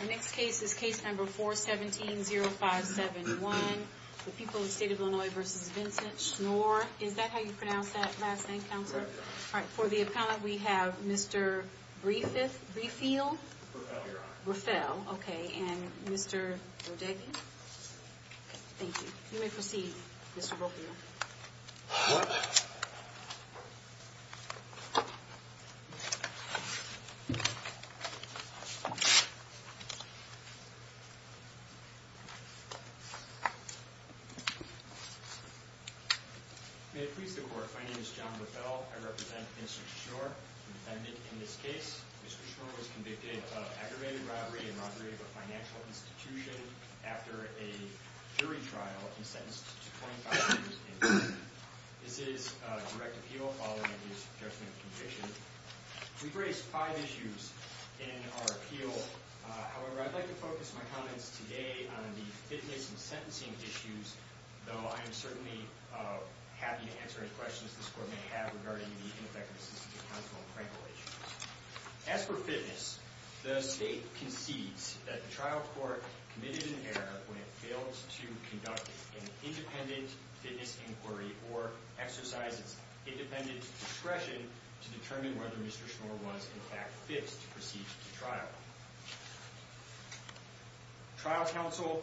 Our next case is case number 417-0571, the people of the state of Illinois v. Vincent Schnoor. Is that how you pronounce that last name, Counselor? That's right, Your Honor. All right, for the appellant, we have Mr. Brieffield? Breffel, Your Honor. Breffel, okay. And Mr. Rodegna? Thank you. You may proceed, Mr. Brophiel. May it please the Court, my name is John Brophiel. I represent Mr. Schnoor, defendant in this case. Mr. Schnoor was convicted of aggravated robbery and robbery of a financial institution after a jury trial and sentenced to 25 years in prison. This is a direct appeal following his judgment of conviction. We've raised five issues in our appeal. However, I'd like to focus my comments today on the fitness and sentencing issues, though I am certainly happy to answer any questions this Court may have regarding the ineffectiveness of the Counsel and Crankle issues. As for fitness, the State concedes that the trial court committed an error when it failed to conduct an independent fitness inquiry or exercise its independent discretion to determine whether Mr. Schnoor was in fact fit to proceed with the trial. Trial counsel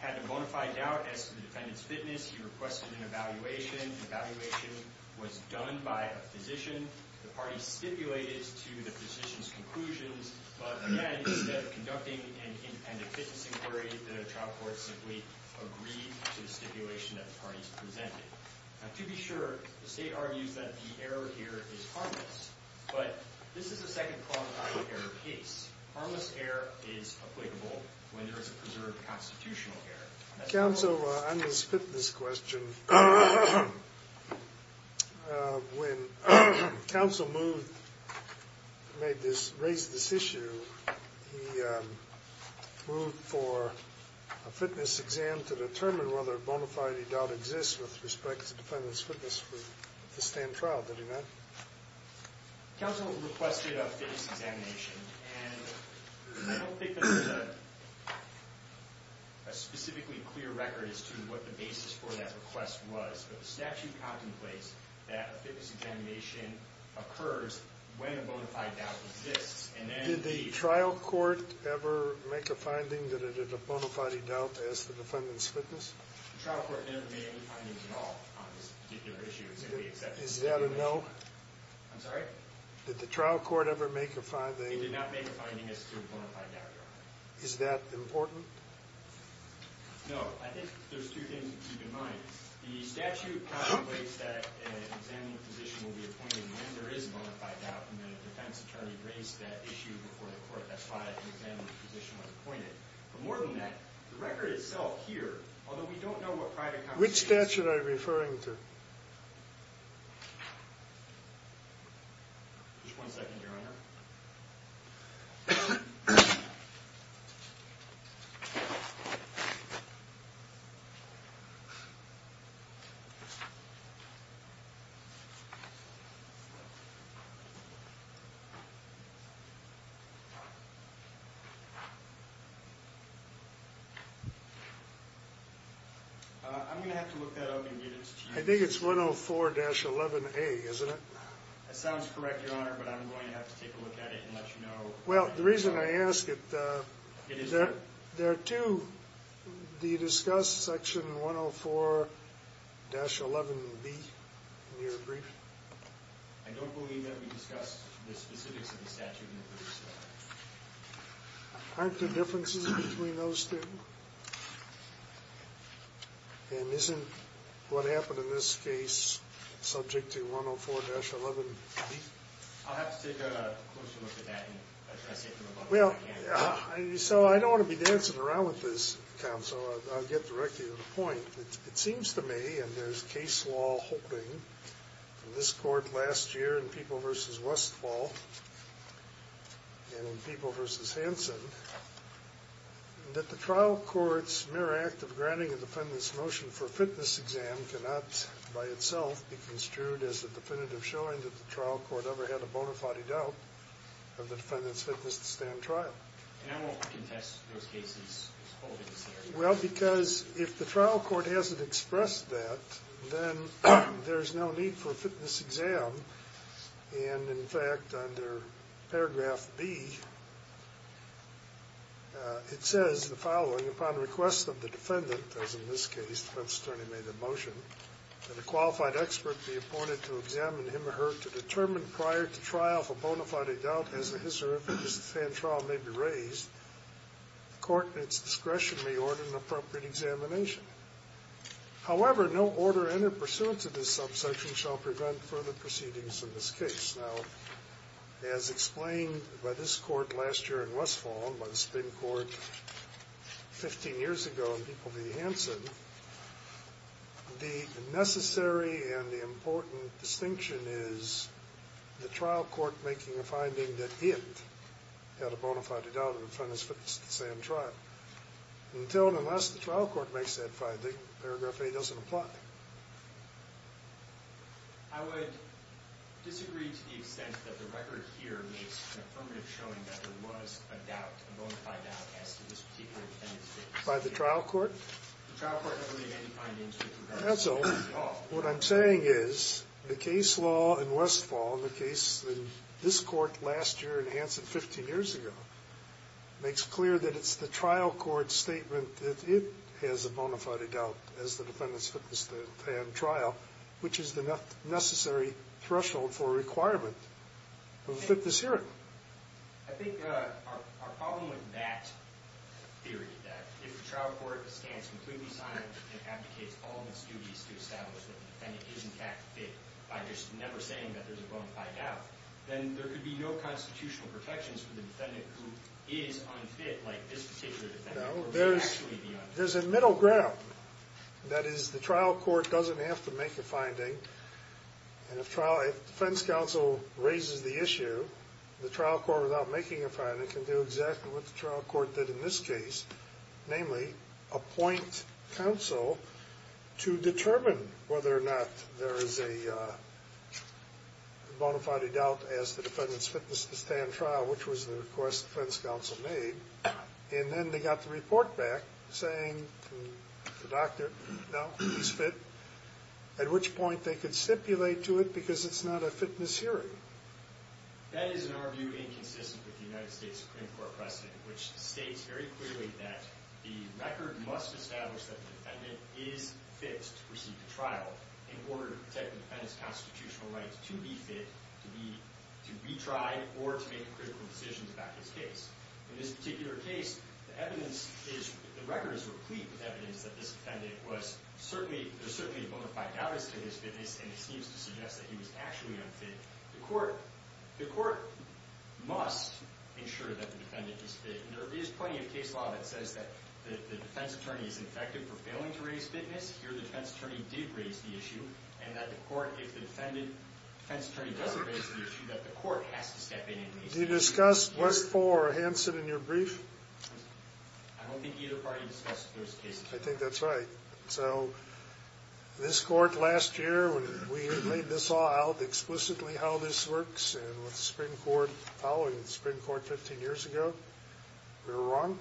had a bona fide doubt as to the defendant's fitness. He requested an evaluation. The evaluation was done by a physician. The party stipulated to the physician's conclusions. But again, instead of conducting an independent fitness inquiry, the trial court simply agreed to the stipulation that the parties presented. To be sure, the State argues that the error here is harmless. But this is a second qualifying error case. Harmless error is applicable when there is a preserved constitutional error. Counsel, on this fitness question, when Counsel raised this issue, he moved for a fitness exam to determine whether a bona fide doubt exists with respect to the defendant's fitness for the stand trial. Did he not? Counsel requested a fitness examination. I don't think there's a specifically clear record as to what the basis for that request was. But the statute contemplates that a fitness examination occurs when a bona fide doubt exists. Did the trial court ever make a finding that it is a bona fide doubt as to the defendant's fitness? The trial court never made any findings at all on this particular issue. Is that a no? I'm sorry? Did the trial court ever make a finding? They did not make a finding as to a bona fide doubt, Your Honor. Is that important? No. I think there's two things to keep in mind. The statute contemplates that an examiner physician will be appointed when there is a bona fide doubt, and then a defense attorney raised that issue before the court, that's why an examiner physician was appointed. But more than that, the record itself here, although we don't know what private compensation is. Which statute are you referring to? Just one second, Your Honor. I'm going to have to look that up and get it to you. I think it's 104-11A, isn't it? That sounds correct, Your Honor, but I'm going to have to take a look at it and let you know. Well, the reason I ask it, there are two. Do you discuss section 104-11B in your brief? I don't believe that we discussed the specifics of the statute in the brief, sir. Aren't there differences between those two? And isn't what happened in this case subject to 104-11B? I'll have to take a closer look at that and address it. Well, so I don't want to be dancing around with this, counsel. I'll get directly to the point. It seems to me, and there's case law holding in this court last year in People v. Westfall and in People v. Hanson, that the trial court's mere act of granting a defendant's motion for a fitness exam cannot, by itself, be construed as a definitive showing that the trial court ever had a bona fide doubt of the defendant's fitness to stand trial. And I won't contest those cases holding this area. Well, because if the trial court hasn't expressed that, then there's no need for a fitness exam. And, in fact, under paragraph B, it says the following. Upon request of the defendant, as in this case the defense attorney made a motion, that a qualified expert be appointed to examine him or her to determine prior to trial if a bona fide doubt has a history of fitness to stand trial may be raised. The court, in its discretion, may order an appropriate examination. However, no order entered pursuant to this subsection shall prevent further proceedings in this case. Now, as explained by this court last year in Westfall and by the spin court 15 years ago in People v. Hanson, the necessary and the important distinction is the trial court making a finding that it had a bona fide doubt of the defendant's fitness to stand trial. Until and unless the trial court makes that finding, paragraph A doesn't apply. I would disagree to the extent that the record here makes an affirmative showing that there was a doubt, a bona fide doubt, as to this particular defendant's fitness. By the trial court? The trial court never made any findings with regard to this at all. What I'm saying is the case law in Westfall, the case in this court last year in Hanson 15 years ago, makes clear that it's the trial court's statement that it has a bona fide doubt as the defendant's fitness to stand trial, which is the necessary threshold for a requirement of fitness here. I think our problem with that theory, that if the trial court stands completely silent and abdicates all of its duties to establish that the defendant is in fact fit by just never saying that there's a bona fide doubt, then there could be no constitutional protections for the defendant who is unfit like this particular defendant. No, there's a middle ground. That is, the trial court doesn't have to make a finding. And if defense counsel raises the issue, the trial court, without making a finding, can do exactly what the trial court did in this case, namely appoint counsel to determine whether or not there is a bona fide doubt as the defendant's fitness to stand trial, which was the request defense counsel made. And then they got the report back saying to the doctor, no, he's fit, at which point they could stipulate to it because it's not a fitness hearing. That is, in our view, inconsistent with the United States Supreme Court precedent, which states very clearly that the record must establish that the defendant is fit to proceed to trial in order to protect the defendant's constitutional rights to be fit, to retry, or to make critical decisions about his case. In this particular case, the record is replete with evidence that this defendant was certainly, there's certainly a bona fide doubt as to his fitness, and it seems to suggest that he was actually unfit. The court, the court must ensure that the defendant is fit. There is plenty of case law that says that the defense attorney is infected for failing to raise fitness. Here the defense attorney did raise the issue, and that the court, if the defendant, defense attorney doesn't raise the issue, that the court has to step in and raise the issue. Do you discuss Westfall or Hanson in your brief? I don't think either party discussed those cases. I think that's right. So this court last year, when we laid this all out, explicitly how this works, and with the Supreme Court following the Supreme Court 15 years ago, we were wrong?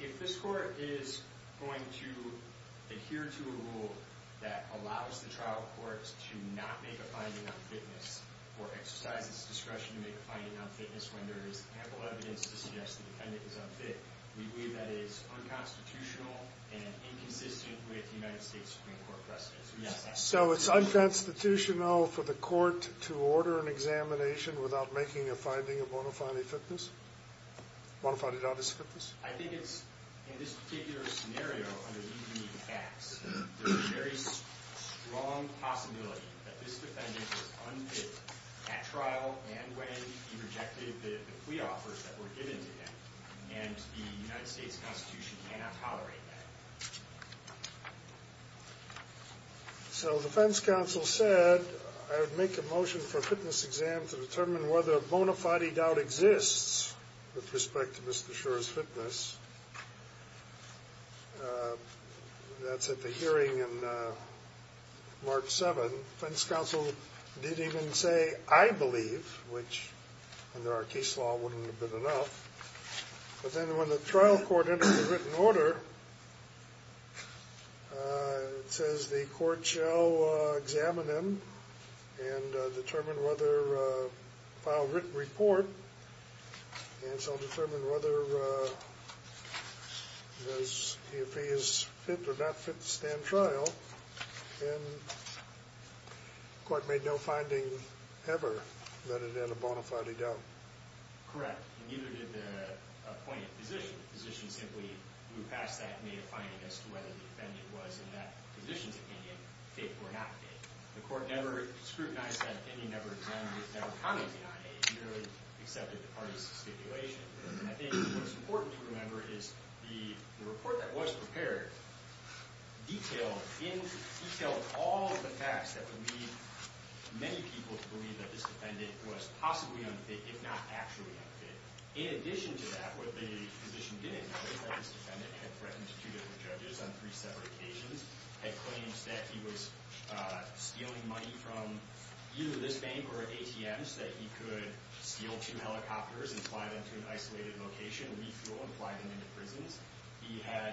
If this court is going to adhere to a rule that allows the trial courts to not make a finding on fitness, or exercise its discretion to make a finding on fitness when there is ample evidence to suggest the defendant is unfit, we believe that is unconstitutional and inconsistent with United States Supreme Court precedence. So it's unconstitutional for the court to order an examination without making a finding of bona fide fitness? Bona fide doubt is fitness? I think it's, in this particular scenario, under these unique facts, there's a very strong possibility that this defendant was unfit at trial and when he rejected the plea offers that were given to him, and the United States Constitution cannot tolerate that. So the defense counsel said, I would make a motion for a fitness exam to determine whether a bona fide doubt exists with respect to Mr. Schor's fitness. That's at the hearing on March 7. The defense counsel didn't even say, I believe, which under our case law wouldn't have been enough. But then when the trial court entered the written order, it says the court shall examine him and determine whether, file a written report, and shall determine whether, if he is fit or not fit to stand trial. And the court made no finding ever that it had a bona fide doubt. Correct. And neither did the appointed physician. The physician simply moved past that and made a finding as to whether the defendant was, in that physician's opinion, fit or not fit. The court never scrutinized that opinion, never examined it, never commented on it. It merely accepted the parties' stipulation. I think what's important to remember is the report that was prepared detailed all of the facts that would lead many people to believe that this defendant was possibly unfit, if not actually unfit. In addition to that, what the physician didn't know is that this defendant had threatened two different judges on three separate occasions, had claims that he was stealing money from either this bank or ATMs, that he could steal two helicopters and fly them to an isolated location, refuel and fly them into prisons. He had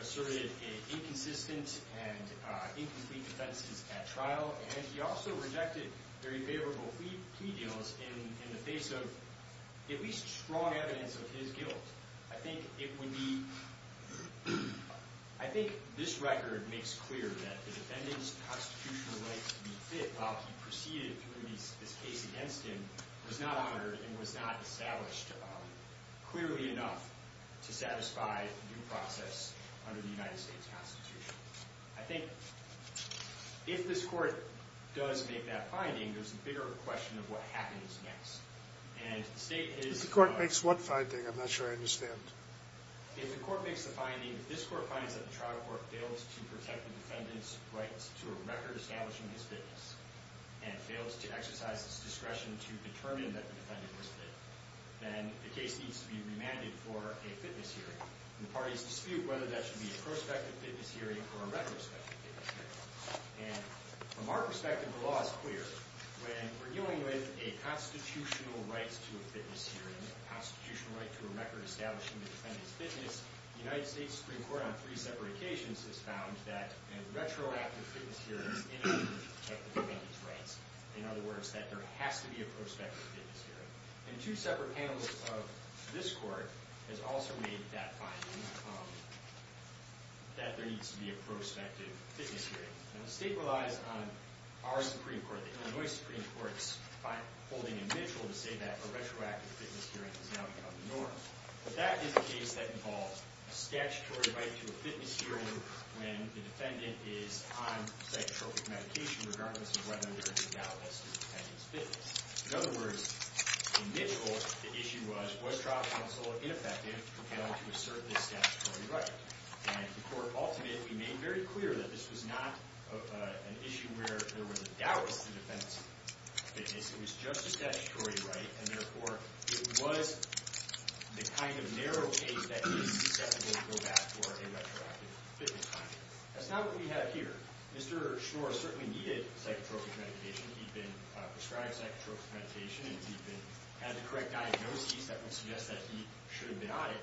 asserted inconsistent and incomplete defenses at trial, and he also rejected very favorable plea deals in the face of at least strong evidence of his guilt. I think it would be – I think this record makes clear that the defendant's constitutional right to be fit, while he proceeded through this case against him, was not honored and was not established clearly enough to satisfy due process under the United States Constitution. I think if this court does make that finding, there's a bigger question of what happens next. And the state is – If the court makes what finding? I'm not sure I understand. If the court makes the finding, if this court finds that the trial court fails to protect the defendant's rights to a record establishing his fitness and fails to exercise his discretion to determine that the defendant was fit, then the case needs to be remanded for a fitness hearing. And the parties dispute whether that should be a prospective fitness hearing or a retrospective fitness hearing. And from our perspective, the law is clear. When we're dealing with a constitutional right to a fitness hearing, the United States Supreme Court, on three separate occasions, has found that a retroactive fitness hearing is in order to protect the defendant's rights. In other words, that there has to be a prospective fitness hearing. And two separate panels of this court has also made that finding, that there needs to be a prospective fitness hearing. And the state relies on our Supreme Court, the Illinois Supreme Court's, by holding a Mitchell to say that a retroactive fitness hearing has now become the norm. But that is a case that involves a statutory right to a fitness hearing when the defendant is on psychotropic medication, regardless of whether or not there is a doubt as to the defendant's fitness. In other words, in Mitchell, the issue was, was trial counsel ineffective in failing to assert this statutory right? And the court ultimately made very clear that this was not an issue where there was a doubt as to the defendant's fitness. It was just a statutory right. And therefore, it was the kind of narrow case that would be susceptible to go back for a retroactive fitness hearing. That's not what we have here. Mr. Schnoor certainly needed psychotropic medication. He'd been prescribed psychotropic medication. And he had the correct diagnosis that would suggest that he should have been on it.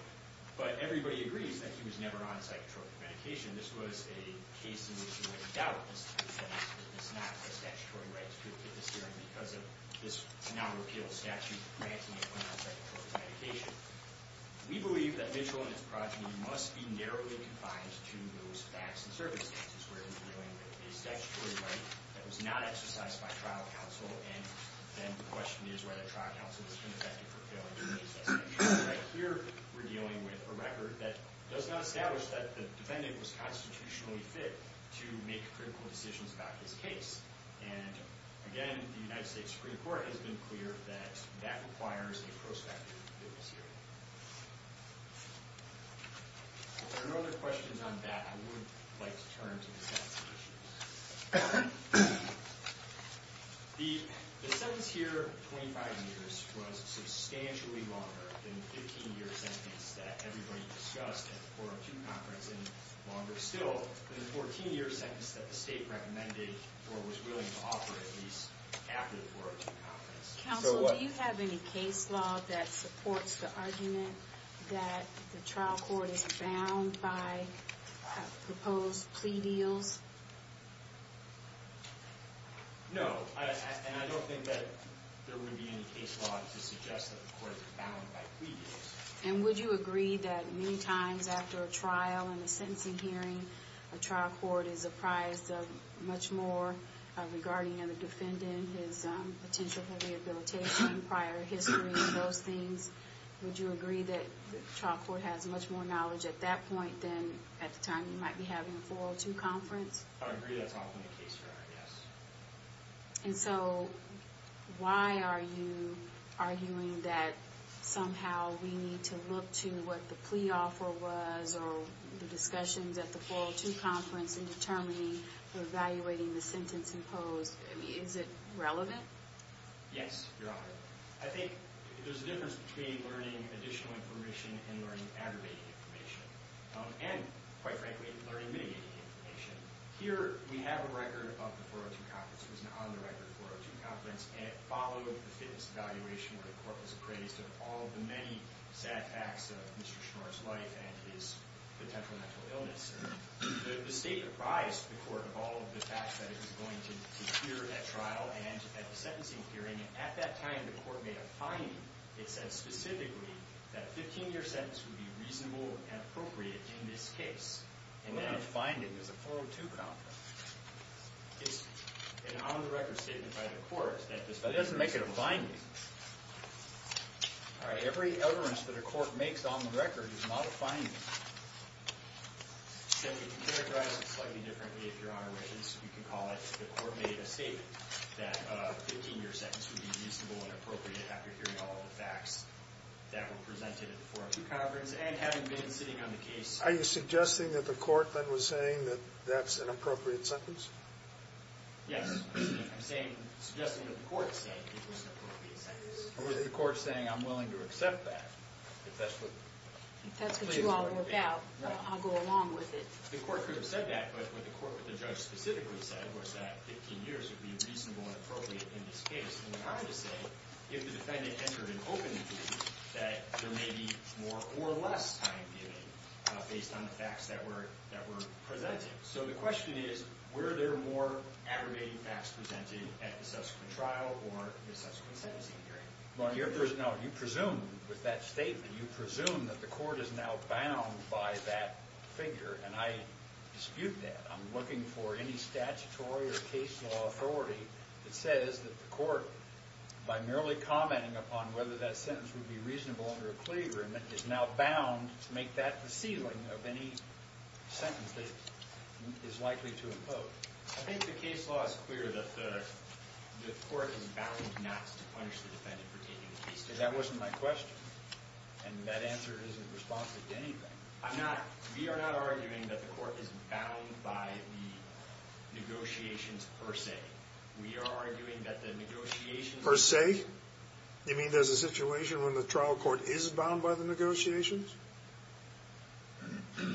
But everybody agrees that he was never on psychotropic medication. This was a case in which there was a doubt as to the defendant's fitness, not a statutory right to a fitness hearing because of this now-repealed statute granting him on psychotropic medication. We believe that Mitchell and his progeny must be narrowly confined to those facts and circumstances where they're dealing with a statutory right that was not exercised by trial counsel. And then the question is whether trial counsel is ineffective for failing to reassess. Here we're dealing with a record that does not establish that the defendant was constitutionally fit to make critical decisions about his case. And, again, the United States Supreme Court has been clear that that requires a prospective fitness hearing. If there are no other questions on that, I would like to turn to the statute. The sentence here, 25 years, was substantially longer than the 15-year sentence that everybody discussed at the 402 conference, and longer still than the 14-year sentence that the state recommended or was willing to offer at least after the 402 conference. Counsel, do you have any case law that supports the argument that the trial court is bound by proposed plea deals? No, and I don't think that there would be any case law to suggest that the court is bound by plea deals. And would you agree that many times after a trial and a sentencing hearing, a trial court is apprised of much more regarding the defendant, his potential for rehabilitation, prior history, those things? Would you agree that the trial court has much more knowledge at that point than at the time you might be having a 402 conference? I would agree that's often the case, Your Honor, yes. And so why are you arguing that somehow we need to look to what the plea offer was or the discussions at the 402 conference in determining or evaluating the sentence imposed? I mean, is it relevant? Yes, Your Honor. I think there's a difference between learning additional information and learning aggravating information, and, quite frankly, learning mitigating information. Here we have a record of the 402 conference. It was an on-the-record 402 conference, and it followed the fitness evaluation where the court was appraised of all of the many sad facts of Mr. Schnorr's life and his potential mental illness. The state apprised the court of all of the facts that it was going to hear at trial and at the sentencing hearing. At that time, the court made a finding. It said specifically that a 15-year sentence would be reasonable and appropriate in this case. What kind of finding? It was a 402 conference. It's an on-the-record statement by the court. It doesn't make it a finding. Every utterance that a court makes on the record is not a finding. We can characterize it slightly differently, if Your Honor wishes. We can call it the court made a statement that a 15-year sentence would be reasonable and appropriate after hearing all of the facts that were presented at the 402 conference, and having been sitting on the case. Are you suggesting that the court then was saying that that's an appropriate sentence? Yes. I'm suggesting that the court said it was an appropriate sentence. Or was the court saying, I'm willing to accept that? If that's what you all work out, I'll go along with it. The court could have said that. But what the court, what the judge specifically said was that 15 years would be reasonable and appropriate in this case. And they wanted to say, if the defendant entered an open jury, that there may be more or less time given based on the facts that were presented. So the question is, were there more aggregating facts presented at the subsequent trial or the subsequent sentencing hearing? Your Honor, you presume with that statement, you presume that the court is now bound by that figure. And I dispute that. I'm looking for any statutory or case law authority that says that the court, by merely commenting upon whether that sentence would be reasonable under a plea agreement, is now bound to make that the ceiling of any sentence that it is likely to impose. I think the case law is clear that the court is bound not to punish the defendant for taking the case. Because that wasn't my question. And that answer isn't responsive to anything. We are not arguing that the court is bound by the negotiations per se. We are arguing that the negotiations per se. You mean there's a situation when the trial court is bound by the negotiations?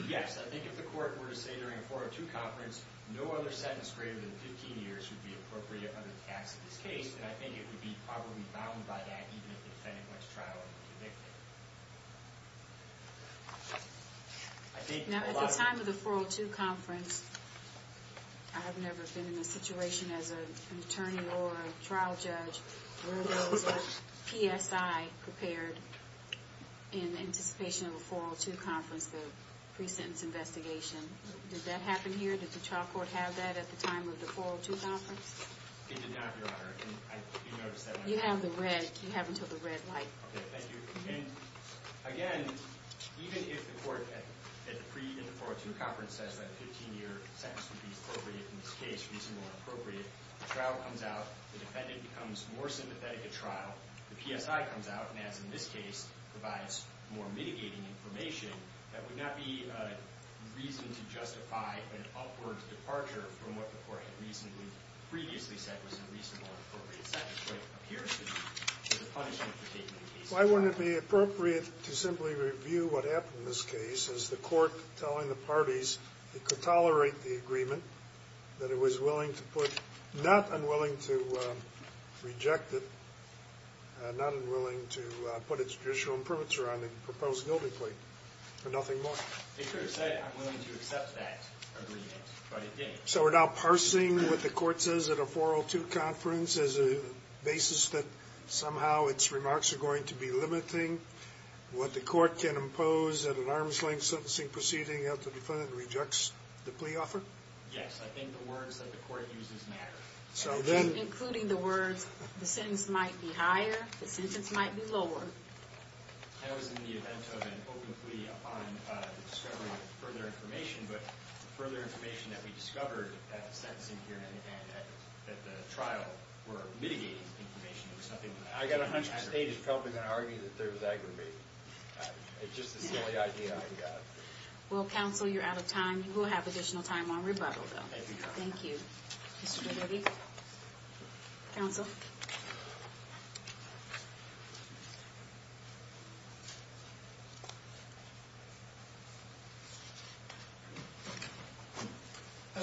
Yes. I think if the court were to say during a 402 conference, no other sentence greater than 15 years would be appropriate under the facts of this case, then I think it would be probably bound by that, even if the defendant went to trial and was convicted. Now, at the time of the 402 conference, I have never been in a situation as an attorney or a trial judge where there was a PSI prepared in anticipation of a 402 conference, the pre-sentence investigation. Did that happen here? Did the trial court have that at the time of the 402 conference? It did not, Your Honor. You have the red. You have until the red light. Okay, thank you. And, again, even if the court at the 402 conference says that a 15-year sentence would be appropriate in this case, reasonable and appropriate, the trial comes out, the defendant becomes more sympathetic at trial, the PSI comes out, and, as in this case, provides more mitigating information, that would not be reason to justify an upward departure from what the court had reasonably, previously said was a reasonable and appropriate sentence. What appears to be the punishment for taking the case to trial. Why wouldn't it be appropriate to simply review what happened in this case as the court telling the parties it could tolerate the agreement, that it was willing to put, not unwilling to reject it, not unwilling to put its judicial imprimatur on the proposed guilty plea, and nothing more? They could have said, I'm willing to accept that agreement, but it didn't. So we're now parsing what the court says at a 402 conference as a basis that somehow its remarks are going to be limiting, what the court can impose at an arm's length sentencing proceeding that the defendant rejects the plea offer? Yes, I think the words that the court uses matter. Including the words, the sentence might be higher, the sentence might be lower. That was in the event of an open plea upon the discovery of further information, but further information that we discovered at the sentencing hearing and at the trial were mitigating information. I got a hunch the state is probably going to argue that there was aggravation. It's just a silly idea I got. Well, counsel, you're out of time. You will have additional time on rebuttal, though. Thank you. Thank you. Counsel? Counsel?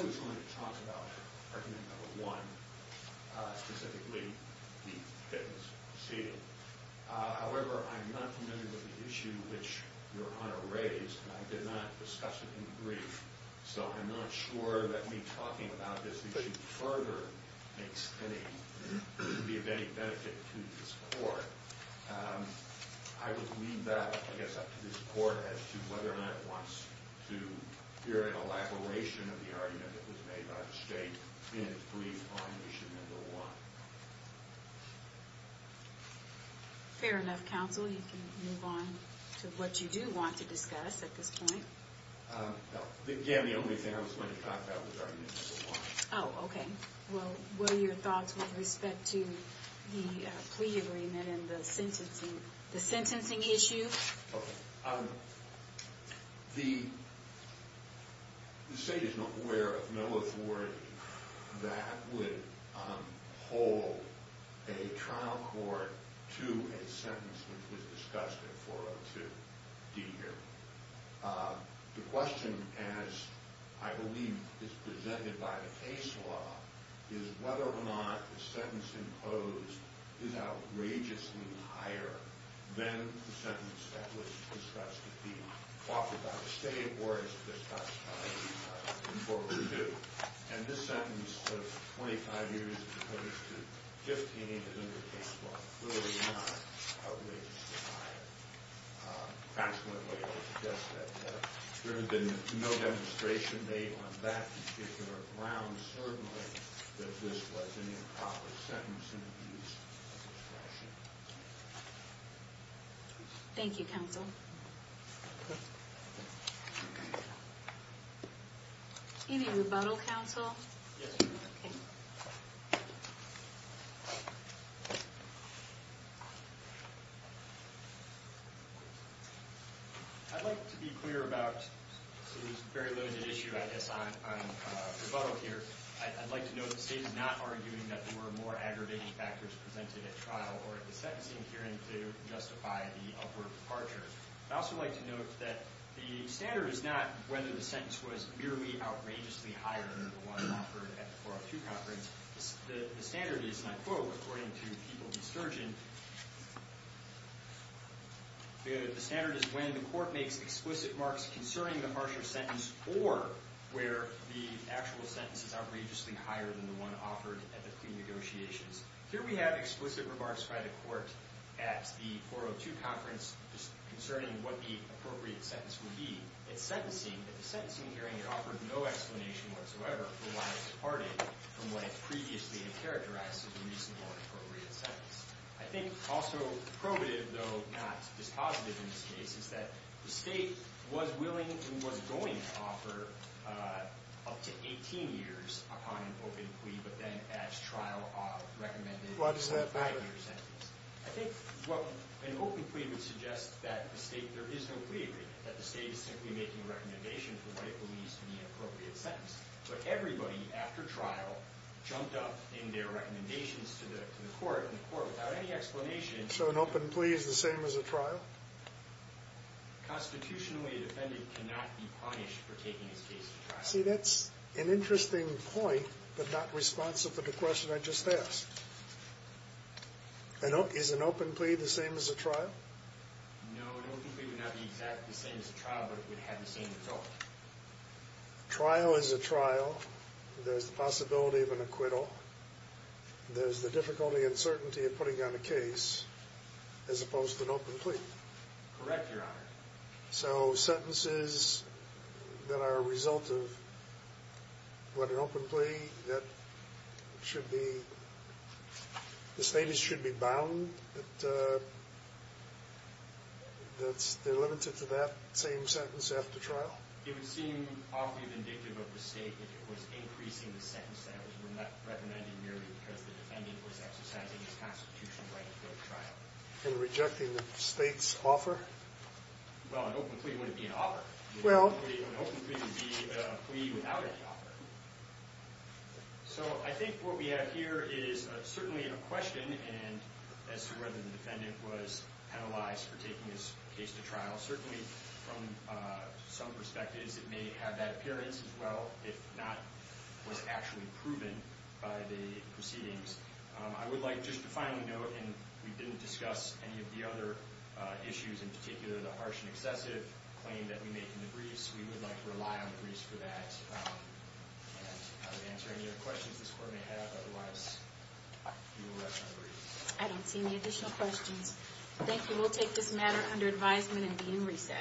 I was going to talk about argument number one, specifically the Fitton's proceeding. However, I'm not familiar with the issue which Your Honor raised, and I did not discuss it in the brief. So I'm not sure that me talking about this issue further would be of any benefit to this court. I would leave that, I guess, up to this court as to whether or not it wants to hear an elaboration of the argument that was made by the state in its brief on issue number one. Fair enough, counsel. You can move on to what you do want to discuss at this point. Again, the only thing I was going to talk about was argument number one. Oh, okay. Well, what are your thoughts with respect to the plea agreement and the sentencing issue? The state is not aware of no authority that would hold a trial court to a sentence which was discussed in 402 D here. The question, as I believe is presented by the case law, is whether or not the sentence imposed is outrageously higher than the sentence that was discussed at the – offered by the state or as discussed in 402. And this sentence of 25 years is opposed to 15 in the case law, clearly not outrageously higher. Consequently, I would suggest that there has been no demonstration made on that particular ground, certainly, that this was an improper sentence and abuse of discretion. Thank you, counsel. Thank you. Any rebuttal, counsel? Yes, ma'am. Okay. I'd like to be clear about this very limited issue, I guess, on rebuttal here. I'd like to note the state is not arguing that there were more aggravating factors presented at trial or at the sentencing hearing to justify the upward departure. I'd also like to note that the standard is not whether the sentence was merely outrageously higher than the one offered at the 402 conference. The standard is, and I quote, according to People v. Sturgeon, the standard is when the court makes explicit marks concerning the harsher sentence or where the actual sentence is outrageously higher than the one offered at the pre-negotiations. Here we have explicit remarks by the court at the 402 conference concerning what the appropriate sentence would be. It's sentencing. At the sentencing hearing, it offered no explanation whatsoever for why it departed from what it previously had characterized as a reasonable or appropriate sentence. I think also probative, though not dispositive in this case, is that the state was willing and was going to offer up to 18 years upon an open plea, but then at trial recommended a five-year sentence. I think what an open plea would suggest is that the state, there is no wavering, that the state is simply making a recommendation for what it believes to be an appropriate sentence. But everybody after trial jumped up in their recommendations to the court, and the court, without any explanation. So an open plea is the same as a trial? Constitutionally, a defendant cannot be punished for taking his case to trial. See, that's an interesting point, but not responsive to the question I just asked. Is an open plea the same as a trial? No, an open plea would not be exactly the same as a trial, but it would have the same result. A trial is a trial. There's the possibility of an acquittal. There's the difficulty and certainty of putting down a case as opposed to an open plea. Correct, Your Honor. So sentences that are a result of what an open plea, that should be, the state should be bound, but they're limited to that same sentence after trial? It would seem awfully vindictive of the state if it was increasing the sentence that it was recommending merely because the defendant was exercising his constitutional right to go to trial. And rejecting the state's offer? Well, an open plea wouldn't be an offer. Well. An open plea would be a plea without an offer. So I think what we have here is certainly a question as to whether the defendant was penalized for taking his case to trial. Certainly, from some perspectives, it may have that appearance as well, if not was actually proven by the proceedings. I would like just to finally note, and we didn't discuss any of the other issues in particular, the harsh and excessive claim that we make in the briefs. We would like to rely on the briefs for that. And I would answer any other questions this Court may have. Otherwise, you will rest my briefs. I don't see any additional questions. Thank you. We'll take this matter under advisement and be in recess.